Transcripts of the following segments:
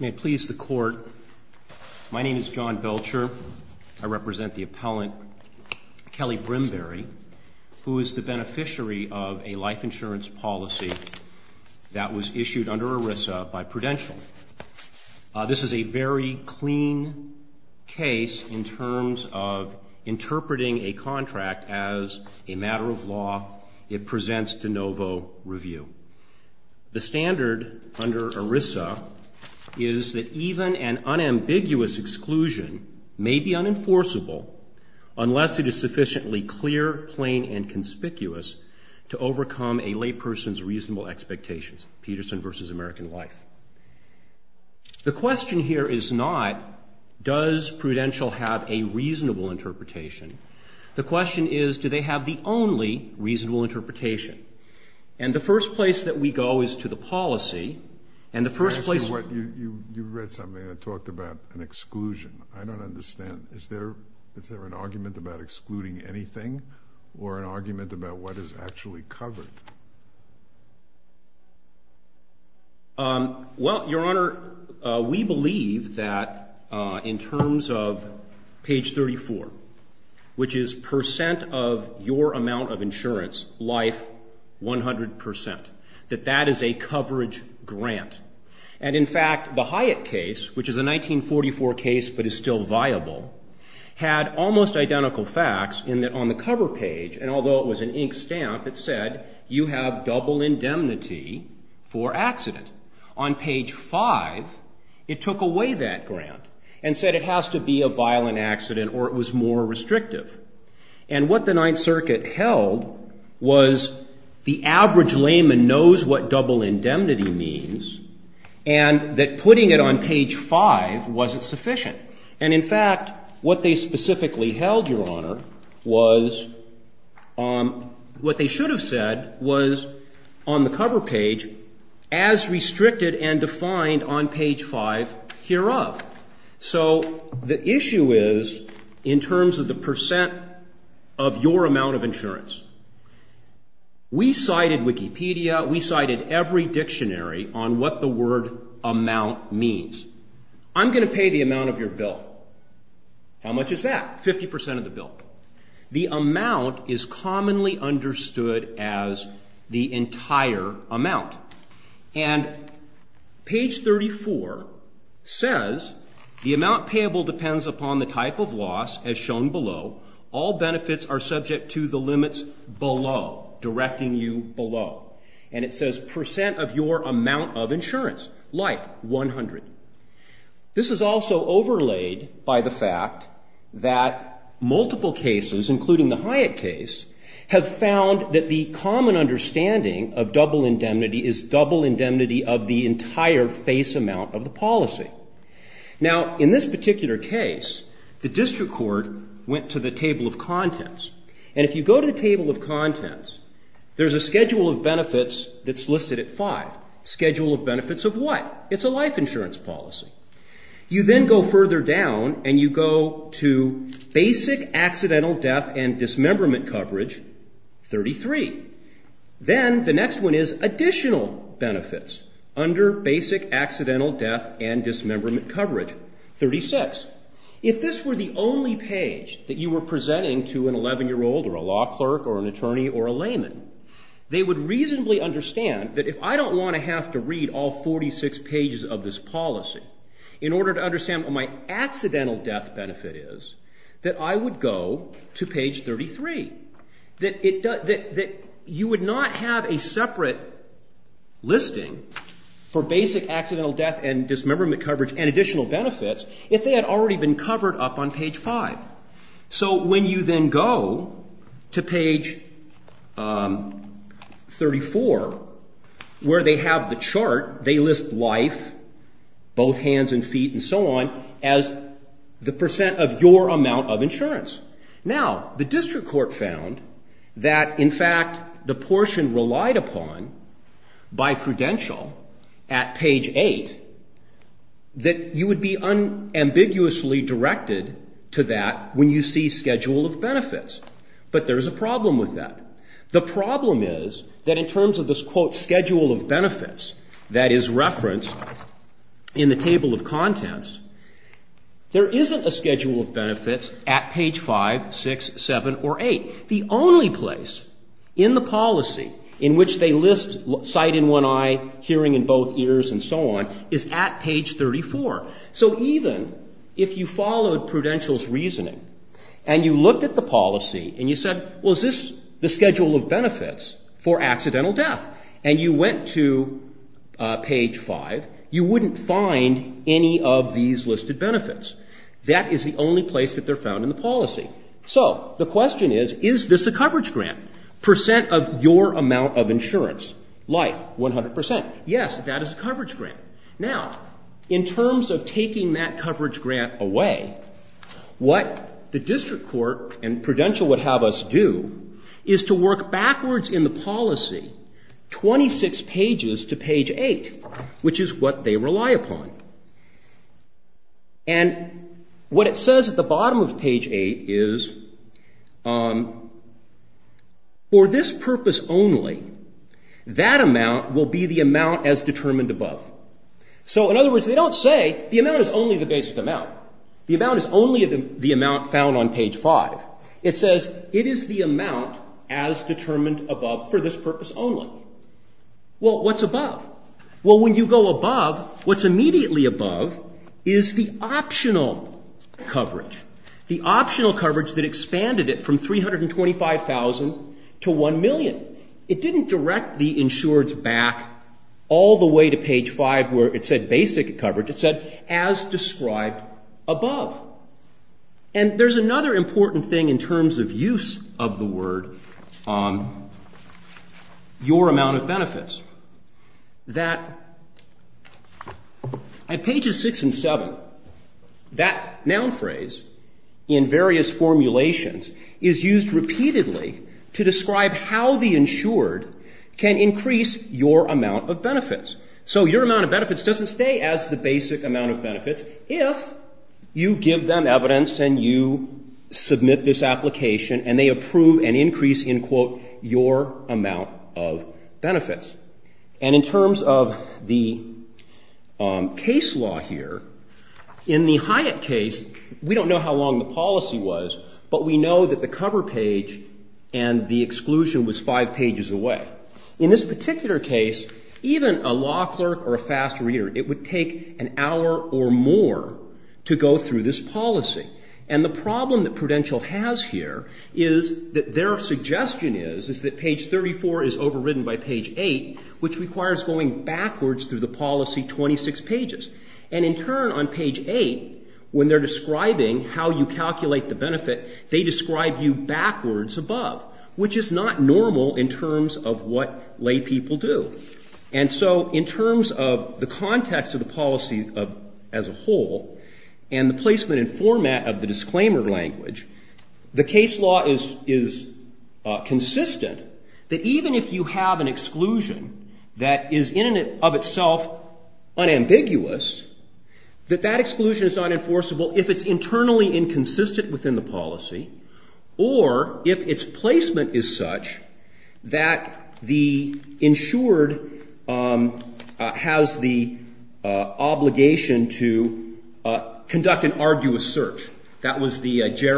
May it please the Court, my name is John Belcher. I represent the appellant Kelly Brimberry, who is the beneficiary of a life insurance policy that was issued under ERISA by Prudential. This is a very clean case in terms of interpreting a contract as a matter of law. It presents de novo review. The standard under ERISA is that even an unambiguous exclusion may be unenforceable unless it is sufficiently clear, plain, and conspicuous to overcome a layperson's reasonable expectations, Peterson v. American Life. The question here is not does Prudential have a reasonable interpretation. The question is do they have the only reasonable interpretation. And the first place that we go is to the policy, and the first place... You read something that talked about an exclusion. I don't understand. Is there an argument about excluding anything or an argument about what is actually covered? Well, Your Honor, we believe that in terms of page 34, which is percent of your amount of insurance, life, 100 percent, that that is a coverage grant. And in fact, the Hyatt case, which is a 1944 case but is still viable, had almost identical facts in that on the cover page, and although it was an ink stamp, it said you have double indemnity for accident. On page 5, it took away that grant and said it has to be a violent accident or it was more restrictive. And what the Ninth Circuit held was the average layman knows what double indemnity means and that putting it on page 5 wasn't sufficient. And in fact, what they specifically held, Your Honor, was what they should have said was on the cover page as restricted and defined on page 5 hereof. So the issue is in terms of the percent of your amount of insurance. We cited Wikipedia. We cited every dictionary on what the word amount means. I'm going to pay the amount of your bill. How much is that? Fifty percent of the bill. The amount is commonly understood as the entire amount. And page 34 says the amount payable depends upon the type of loss as shown below. All benefits are subject to the limits below, directing you below. And it says percent of your amount of insurance, life, 100. This is also overlaid by the fact that multiple cases, including the Hyatt case, have found that the common understanding of double indemnity is double indemnity of the entire face amount of the policy. Now, in this particular case, the district court went to the table of contents. And if you go to the table of contents, there's a schedule of benefits that's listed at 5. Schedule of benefits of what? It's a life insurance policy. You then go further down and you go to basic accidental death and dismemberment coverage, 33. Then the next one is additional benefits under basic accidental death and dismemberment coverage, 36. If this were the only page that you were presenting to an 11-year-old or a law clerk or an attorney or a layman, they would reasonably understand that if I don't want to have to read all 46 pages of this policy in order to understand what my accidental death benefit is, that I would go to page 33. That you would not have a separate listing for basic accidental death and dismemberment coverage and additional benefits if they had already been chart, they list life, both hands and feet and so on, as the percent of your amount of insurance. Now, the district court found that, in fact, the portion relied upon by prudential at page 8 that you would be unambiguously directed to that when you see schedule of benefits. But there's a problem with that. The problem is that in terms of this, quote, schedule of benefits that is referenced in the table of contents, there isn't a schedule of benefits at page 5, 6, 7, or 8. The only place in the policy in which they list sight in one eye, hearing in both ears, and so on, is at page 34. So even if you followed prudential's reasoning, and you looked at the policy, and you said, well, is this the schedule of benefits for accidental death, and you went to page 5, you wouldn't find any of these listed benefits. That is the only place that they're found in the policy. So the question is, is this a coverage grant? Percent of your amount of insurance, life, 100 percent. Yes, that is a coverage grant. Now, in terms of taking that coverage grant away, what the district court and prudential would have us do is to work backwards in the policy 26 pages to page 8, which is what they rely upon. And what it says at the bottom of page 8 is, for this purpose only, that amount will be the amount as determined above. So in other words, they don't say the amount is only the basic amount. The amount is only the amount found on page 5. It says it is the amount as determined above for this purpose only. Well, what's above? Well, when you go above, what's immediately above is the optional coverage, the all the way to page 5 where it said basic coverage. It said as described above. And there's another important thing in terms of use of the word, your amount of benefits, that at pages 6 and 7, that noun phrase in various formulations is used repeatedly to describe how the insured can increase your amount of benefits. So your amount of benefits doesn't stay as the basic amount of benefits if you give them evidence and you submit this application and they approve and increase, in quote, your amount of benefits. And in terms of the case law here, in the Hyatt case, we don't know how long the policy was, but we know that the cover page and the exclusion was five pages away. In this particular case, even a law clerk or a fast reader, it would take an hour or more to go through this policy. And the problem that Prudential has here is that their suggestion is, is that page 34 is overridden by page 8, which is not normal in terms of what lay people do. And so in terms of the context of the policy as a whole and the placement and format of the disclaimer language, the case law is consistent that even if you have an exclusion that is in and of itself unambiguous, that that exclusion is not enforceable if it's internally inconsistent within the policy or if its placement is such that the insured has the obligation to conduct an arduous search. That was the So one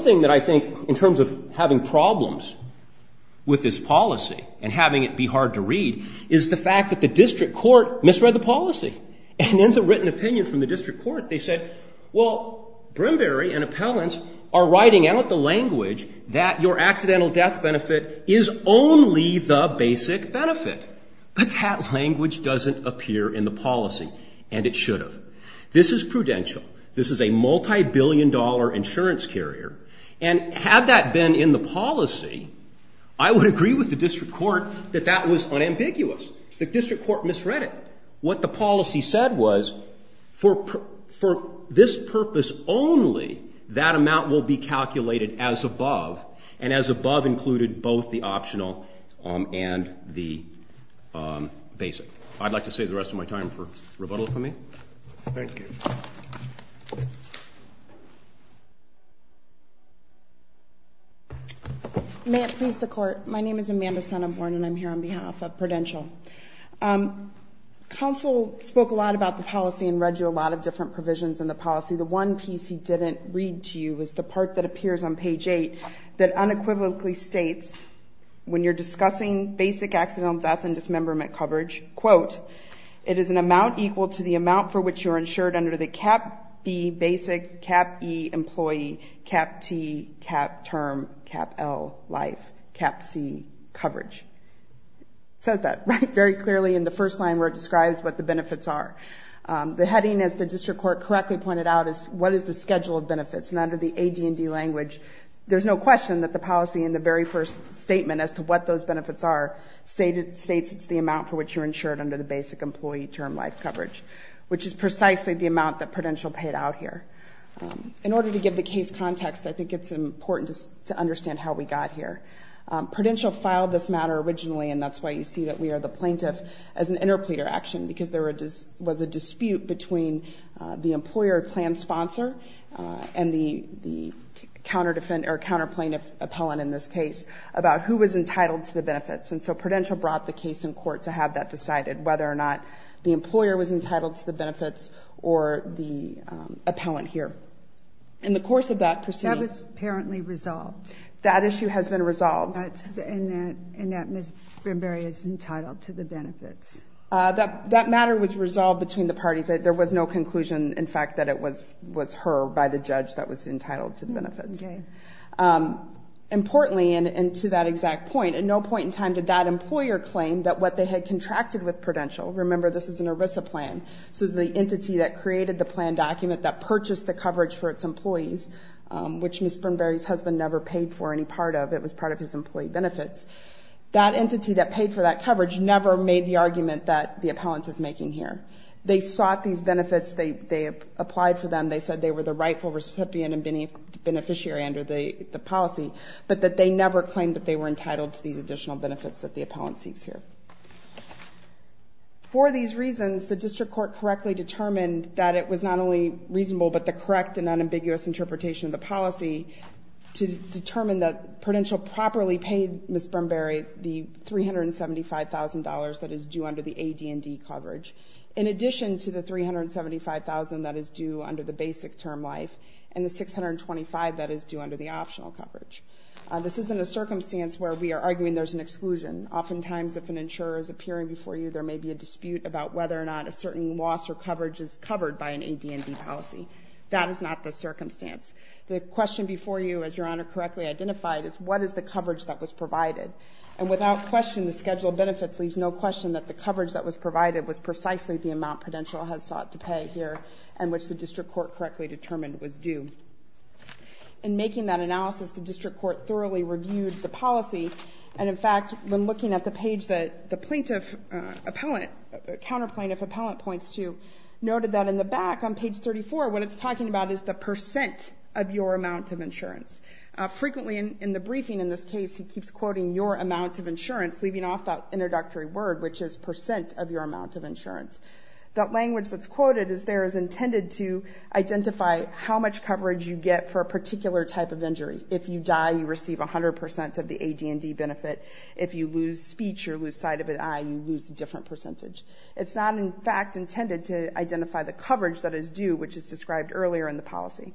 thing that I think, in terms of having problems with this policy and having it be hard to read, is the fact that the district court misread the policy. And in the written opinion from the district court, they said, well, Brimberry and appellants are writing out the language that your accidental death benefit is only the basic benefit. But that language doesn't appear in the policy, and it should have. This is Prudential. This is a multibillion-dollar insurance carrier. And had that been in the policy, I would agree with the district court that that was unambiguous. The district court misread it. What the policy said was, for this purpose only, that amount will be calculated as above, and as above included both the I'd like to save the rest of my time for rebuttal, if I may. Thank you. May it please the Court. My name is Amanda Sonnenborn, and I'm here on behalf of Prudential. Counsel spoke a lot about the policy and read you a lot of different provisions in the policy. The one piece he didn't read to you is the part that appears on page 8 that unequivocally states, when you're discussing basic accidental death and dismemberment coverage, quote, it is an amount equal to the amount for which you're insured under the cap B basic, cap E employee, cap T, cap term, cap L life, cap C coverage. It says that very clearly in the first line where it describes what the benefits are. The heading, as the district court correctly pointed out, is what is the schedule of benefits. And under the AD&D language, there's no question that the policy in the very first statement as to what those benefits are states it's the amount for which you're insured under the basic employee term life coverage, which is precisely the amount that Prudential paid out here. In order to give the case context, I think it's important to understand how we got here. Prudential filed this matter originally, and that's why you see that we are the employer plan sponsor and the counter defendant or counter plaintiff appellant in this case about who was entitled to the benefits. And so Prudential brought the case in court to have that decided, whether or not the employer was entitled to the benefits or the appellant here. In the course of that proceeding. That was apparently resolved. That issue has been resolved. And that Ms. Brimberry is entitled to the benefits. That matter was resolved between the parties. There was no conclusion, in fact, that it was her by the judge that was entitled to the benefits. Importantly, and to that exact point, at no point in time did that employer claim that what they had contracted with Prudential, remember this is an ERISA plan. So the entity that created the plan document that purchased the coverage for its employees, which Ms. Brimberry's husband never paid for any part of, it was part of his the argument that the appellant is making here. They sought these benefits. They applied for them. They said they were the rightful recipient and beneficiary under the policy, but that they never claimed that they were entitled to these additional benefits that the appellant seeks here. For these reasons, the district court correctly determined that it was not only reasonable, but the correct and unambiguous interpretation of the policy to determine that Prudential properly paid Ms. Brimberry the $375,000 that is due under the AD&D coverage. In addition to the $375,000 that is due under the basic term life and the $625,000 that is due under the optional coverage. This isn't a circumstance where we are arguing there's an exclusion. Oftentimes, if an insurer is appearing before you, there may be a dispute about whether or not a certain loss or coverage is covered by an AD&D policy. That is not the circumstance. The question before you, as Your Honor correctly identified, is what is the coverage that was provided? And without question, the schedule of benefits leaves no question that the coverage that was provided was precisely the amount Prudential had sought to pay here and which the district court correctly determined was due. In making that analysis, the district court thoroughly reviewed the policy, and in fact, when looking at the page that the plaintiff appellant, counter plaintiff appellant points to, noted that in the back on page 34, what it's talking about is the percent of your amount of insurance. Frequently in the briefing in this case, he keeps quoting your amount of insurance, leaving off that introductory word, which is percent of your amount of insurance. That language that's quoted is there is intended to identify how much coverage you get for a particular type of injury. If you die, you receive 100% of the AD&D benefit. If you lose speech or lose sight of an eye, you lose a different percentage. It's not, in fact, intended to identify the coverage that is due, which is described earlier in the policy.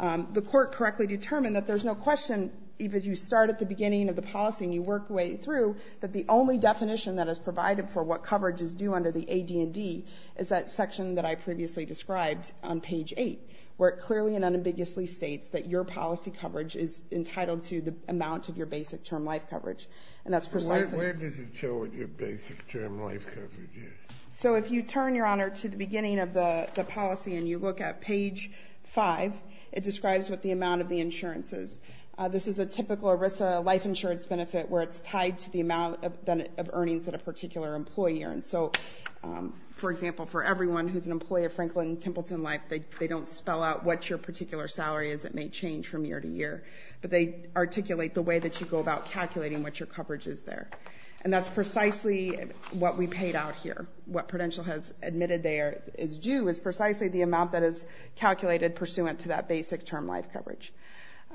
The court correctly determined that there's no question, even if you start at the beginning of the policy and you work your way through, that the only definition that is provided for what coverage is due under the AD&D is that section that I previously described on page 8, where it clearly and unambiguously states that your policy coverage is entitled to the amount of your basic term life coverage. And that's precisely... Where does it show what your basic term life coverage is? So if you turn, Your Honor, to the beginning of the policy and you look at page 5, it describes what the amount of the insurance is. This is a typical ERISA life insurance benefit where it's tied to the amount of earnings at a particular employer. And so, for example, for everyone who's an employee of Franklin Templeton Life, they don't spell out what your particular salary is. It may change from year to year, but they articulate the way that you go about calculating what your coverage is there. And that's precisely what we paid out here. What Prudential has admitted there is due is precisely the amount that is calculated pursuant to that basic term life coverage.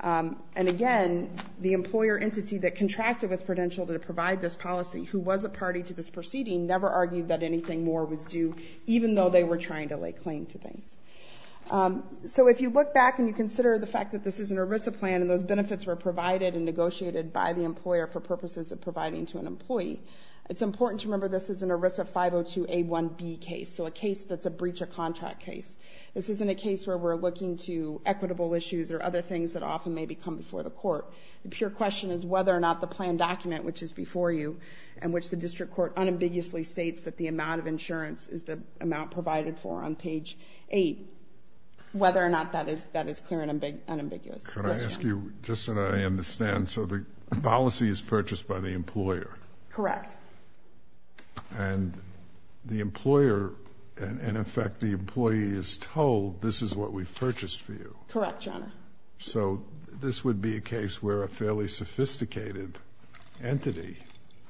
And again, the employer entity that contracted with Prudential to provide this policy, who was a party to this proceeding, never argued that anything more was due, even though they were trying to lay claim to things. So if you look back and you consider the fact that this is an ERISA plan, and those benefits were provided and negotiated by the employer for purposes of providing to an employee, it's important to remember this is an ERISA 502A1B case, so a case that's a breach of contract case. This isn't a case where we're looking to equitable issues or other things that often may become before the court. The pure question is whether or not the plan document, which is before you, and which the district court unambiguously states that the amount of insurance is the amount provided for on page 8, whether or not that is clear and unambiguous. Can I ask you, just so that I understand, so the policy is purchased by the employer? Correct. And the employer, in effect, the employee is told this is what we've purchased for you? Correct, Your Honor. So this would be a case where a fairly sophisticated entity,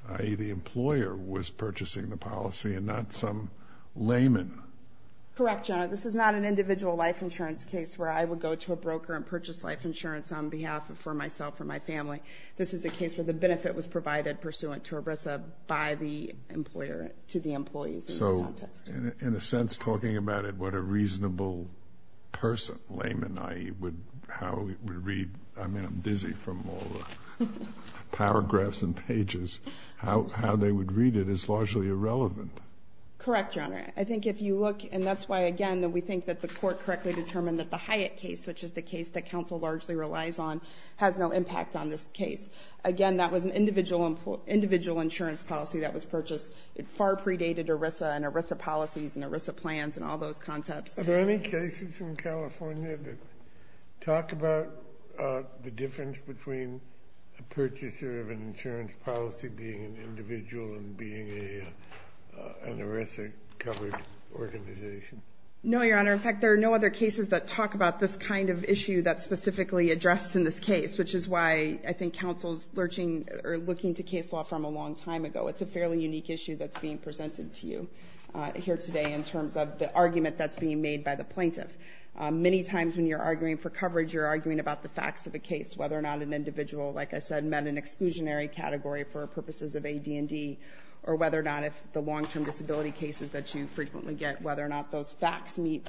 i.e., the employer, was purchasing the policy and not some layman? Correct, Your Honor. This is not an individual life insurance case where I would go to a broker and purchase life insurance on behalf of myself or my family. This is a case where the benefit was provided pursuant to EBRSA by the employer to the employees in this context. So, in a sense, talking about it, what a reasonable person, layman, i.e., would read. I mean, I'm dizzy from all the paragraphs and pages. How they would read it is largely irrelevant. Correct, Your Honor. I think if you look, and that's why, again, we think that the court correctly determined that the Hyatt case, which is the case that counsel largely relies on, has no impact on this case. Again, that was an individual insurance policy that was purchased. It far predated EBRSA and EBRSA policies and EBRSA plans and all those concepts. Are there any cases in California that talk about the difference between a purchaser of an insurance policy being an individual and being an EBRSA-covered organization? No, Your Honor. In fact, there are no other cases that talk about this kind of issue that's specifically addressed in this case, which is why I think counsel's looking to case law from a long time ago. It's a fairly unique issue that's being presented to you here today in terms of the argument that's being made by the plaintiff. Many times when you're arguing for coverage, you're arguing about the facts of the case, whether or not an individual, like I said, met an exclusionary category for purposes of AD&D, or whether or not if the long-term disability cases that you frequently get, whether or not those facts meet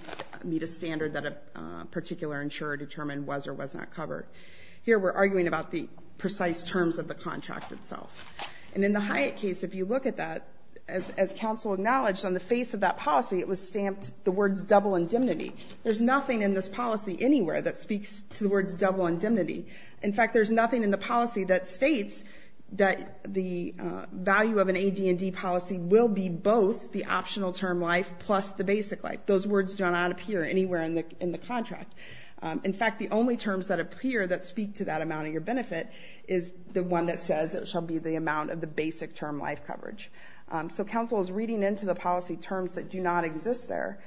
a standard that a particular insurer determined was or was not covered. Here we're arguing about the precise terms of the contract itself. And in the Hyatt case, if you look at that, as counsel acknowledged, on the face of that policy, it was stamped the words double indemnity. There's nothing in this policy anywhere that speaks to the words double indemnity. In fact, there's nothing in the policy that states that the value of an AD&D policy will be both the optional term life plus the basic life. Those words do not appear anywhere in the contract. In fact, the only terms that appear that speak to that amount of your benefit is the one that says it shall be the amount of the basic term life coverage. So counsel is reading into the policy terms that do not exist there.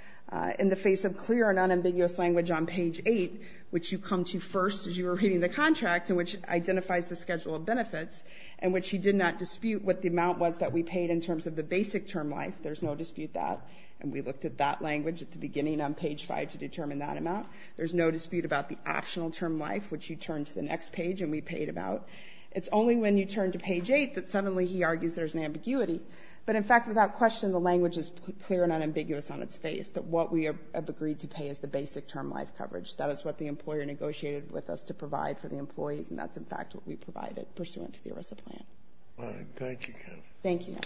In the face of clear and unambiguous language on page 8, which you come to first as you were reading the contract and which identifies the schedule of benefits and which he did not dispute what the amount was that we paid in terms of the basic term life, there's no dispute that. And we looked at that language at the beginning on page 5 to determine that amount. There's no dispute about the optional term life, which you turn to the next page and we paid about. It's only when you turn to page 8 that suddenly he argues there's an ambiguity. But in fact, without question, the language is clear and unambiguous on its face that what we have agreed to pay is the basic term life coverage. That is what the employer negotiated with us to provide for the employees, and that's in fact what we provided pursuant to the ERISA plan. All right. Thank you, counsel. Thank you.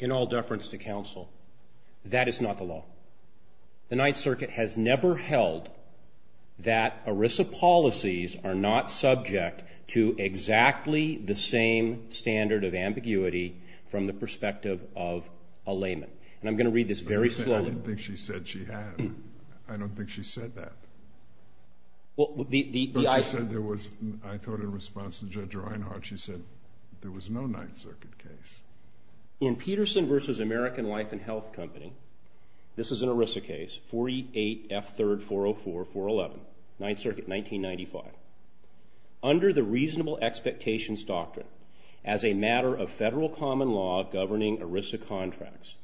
In all deference to counsel, that is not the law. The Ninth Circuit has never held that ERISA policies are not subject to exactly the same standard of ambiguity from the perspective of a layman. And I'm going to read this very slowly. I didn't think she said she had. I don't think she said that. But she said there was, I thought in response to Judge Reinhart, she said there was no Ninth Circuit case. In Peterson v. American Life and Health Company, this is an ERISA case, 48F3404411, Ninth Circuit, 1995. Under the reasonable expectations doctrine, as a matter of federal common law governing ERISA contracts,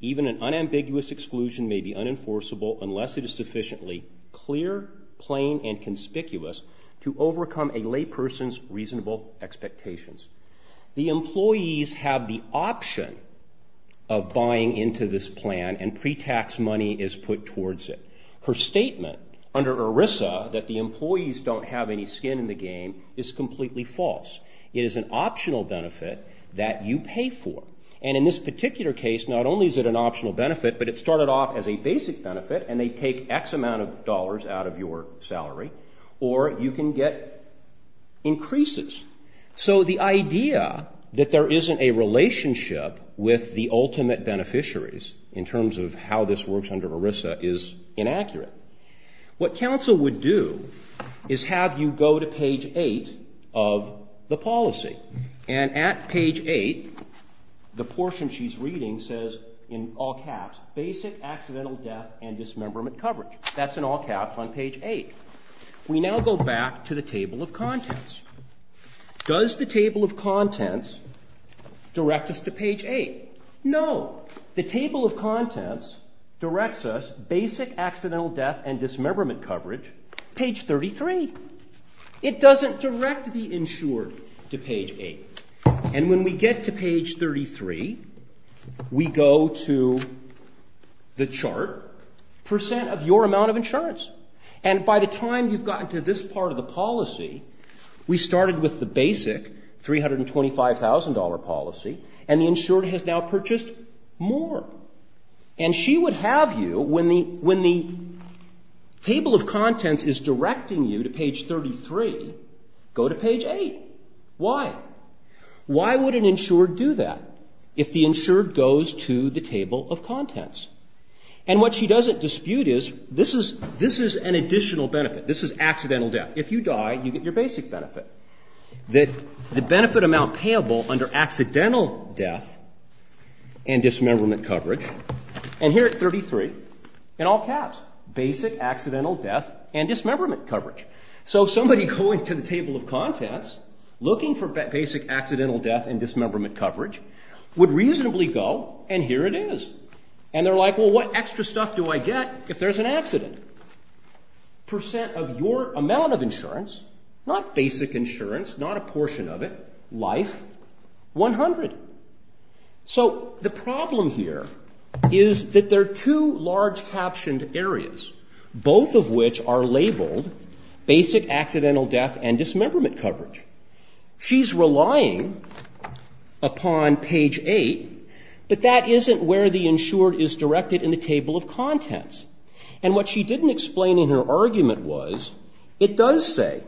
even an unambiguous exclusion may be unenforceable unless it is sufficiently clear, plain, and conspicuous to overcome a layperson's reasonable expectations. The employees have the option of buying into this plan and pre-tax money is put towards it. Her statement under ERISA that the employees don't have any skin in the game is completely false. It is an optional benefit that you pay for. And in this particular case, not only is it an optional benefit, but it started off as a basic benefit, and they take X amount of dollars out of your salary, or you can get increases. So the idea that there isn't a relationship with the ultimate beneficiaries in terms of how this works under ERISA is inaccurate. What counsel would do is have you go to page 8 of the policy. And at page 8, the portion she's reading says, in all caps, BASIC ACCIDENTAL DEATH AND DISMEMBERMENT COVERAGE. That's in all caps on page 8. We now go back to the table of contents. Does the table of contents direct us to page 8? No. The table of contents directs us BASIC ACCIDENTAL DEATH AND DISMEMBERMENT COVERAGE, page 33. It doesn't direct the insured to page 8. And when we get to page 33, we go to the chart, percent of your amount of insurance. And by the time you've gotten to this part of the policy, we started with the basic $325,000 policy, and the insured has now purchased more. And she would have you, when the table of contents is directing you to page 33, go to page 8. Why? Why would an insured do that if the insured goes to the table of contents? And what she doesn't dispute is this is an additional benefit. This is accidental death. If you die, you get your basic benefit. The benefit amount payable under accidental death and dismemberment coverage. And here at 33, in all caps, BASIC ACCIDENTAL DEATH AND DISMEMBERMENT COVERAGE. So somebody going to the table of contents, looking for BASIC ACCIDENTAL DEATH AND DISMEMBERMENT COVERAGE, would reasonably go, and here it is. And they're like, well, what extra stuff do I get if there's an accident? Percent of your amount of insurance, not basic insurance, not a portion of it, life, 100. So the problem here is that there are two large captioned areas, both of which are labeled BASIC ACCIDENTAL DEATH AND DISMEMBERMENT COVERAGE. She's relying upon page 8. But that isn't where the insured is directed in the table of contents. And what she didn't explain in her argument was it does say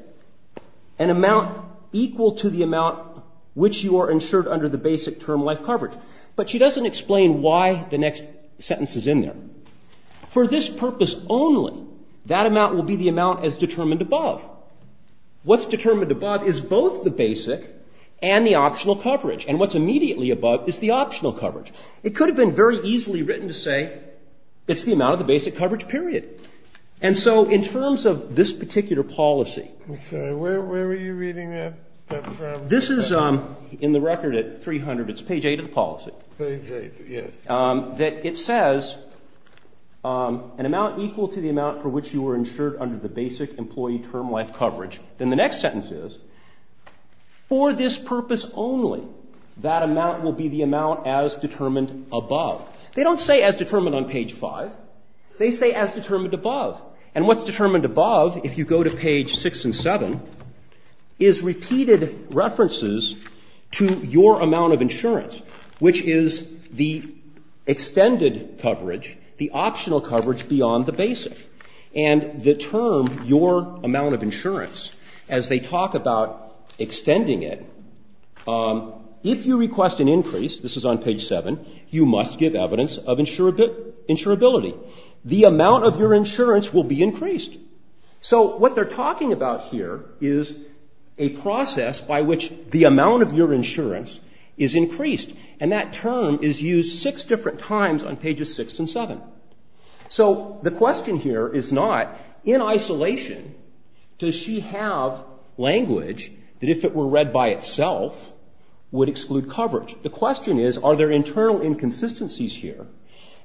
an amount equal to the amount which you are insured under the basic term life coverage. But she doesn't explain why the next sentence is in there. For this purpose only, that amount will be the amount as determined above. What's determined above is both the BASIC and the optional coverage. And what's immediately above is the optional coverage. It could have been very easily written to say it's the amount of the BASIC coverage period. And so in terms of this particular policy. I'm sorry. Where were you reading that from? This is in the record at 300. It's page 8 of the policy. Page 8, yes. That it says an amount equal to the amount for which you are insured under the BASIC employee term life coverage. Then the next sentence is for this purpose only, that amount will be the amount as determined above. They don't say as determined on page 5. They say as determined above. And what's determined above, if you go to page 6 and 7, is repeated references to your amount of insurance. Which is the extended coverage, the optional coverage beyond the BASIC. And the term, your amount of insurance, as they talk about extending it. If you request an increase, this is on page 7, you must give evidence of insurability. The amount of your insurance will be increased. So what they're talking about here is a process by which the amount of your insurance is increased. And that term is used six different times on pages 6 and 7. So the question here is not, in isolation, does she have language that if it were read by itself, would exclude coverage? The question is, are there internal inconsistencies here?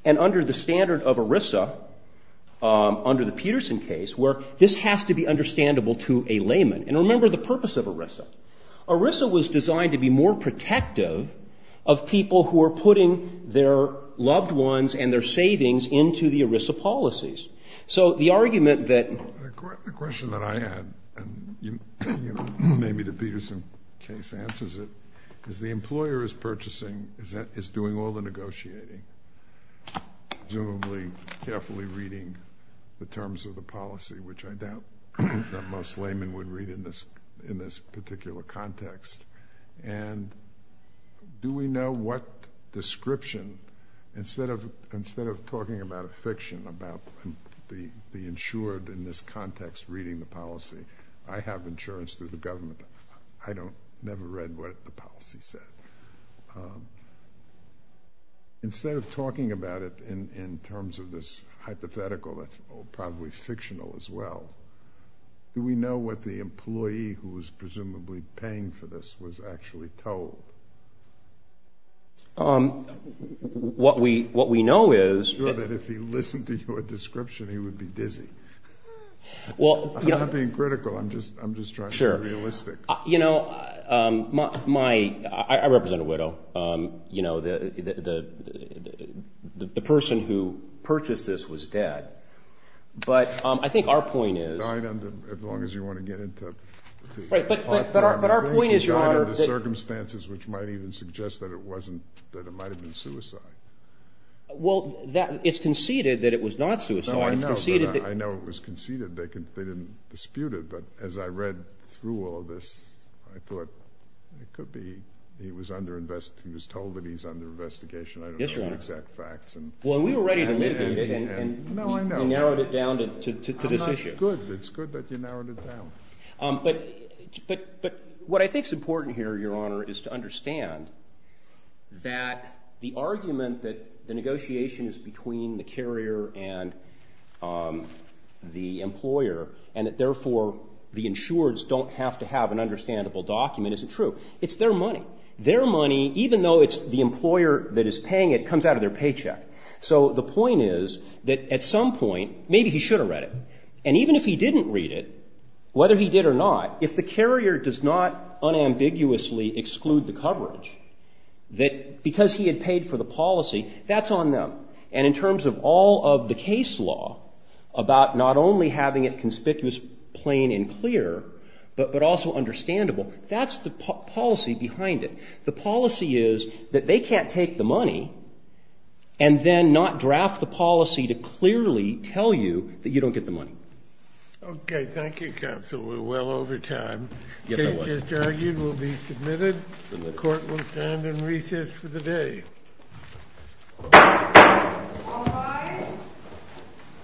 And under the standard of ERISA, under the Peterson case, where this has to be understandable to a layman. And remember the purpose of ERISA. ERISA was designed to be more protective of people who are putting their loved ones and their savings into the ERISA policies. So the argument that the question that I had, and maybe the Peterson case answers it, is the employer is purchasing, is doing all the negotiating, presumably carefully reading the terms of the policy, which I doubt that most laymen would read in this particular context. And do we know what description, instead of talking about a fiction, about the insured in this context reading the policy, I have insurance through the government, but I never read what the policy said. Instead of talking about it in terms of this hypothetical, that's probably fictional as well, do we know what the employee who was presumably paying for this was actually told? What we know is... I'm sure that if he listened to your description, he would be dizzy. I'm not being critical, I'm just trying to be realistic. You know, I represent a widow. The person who purchased this was dead. But I think our point is... Died under, as long as you want to get into... Right, but our point is... Died under circumstances which might even suggest that it might have been suicide. Well, it's conceded that it was not suicide. I know it was conceded, they didn't dispute it, but as I read through all of this, I thought, it could be he was told that he was under investigation, I don't know the exact facts. Well, we were ready to mitigate it, and you narrowed it down to this issue. It's good that you narrowed it down. But what I think is important here, Your Honor, is to understand that the argument that the negotiation is between the carrier and the employer, and that therefore the insureds don't have to have an understandable document isn't true. It's their money. Their money, even though it's the employer that is paying it, comes out of their paycheck. So the point is that at some point, maybe he should have read it. And even if he didn't read it, whether he did or not, if the carrier does not unambiguously exclude the coverage, that because he had paid for the policy, that's on them. And in terms of all of the case law about not only having it conspicuous, plain and clear, but also understandable, that's the policy behind it. The policy is that they can't take the money and then not draft the policy to clearly tell you that you don't get the money. Okay, thank you, counsel. We're well over time. The case just argued will be submitted. The court will stand in recess for the day. All rise.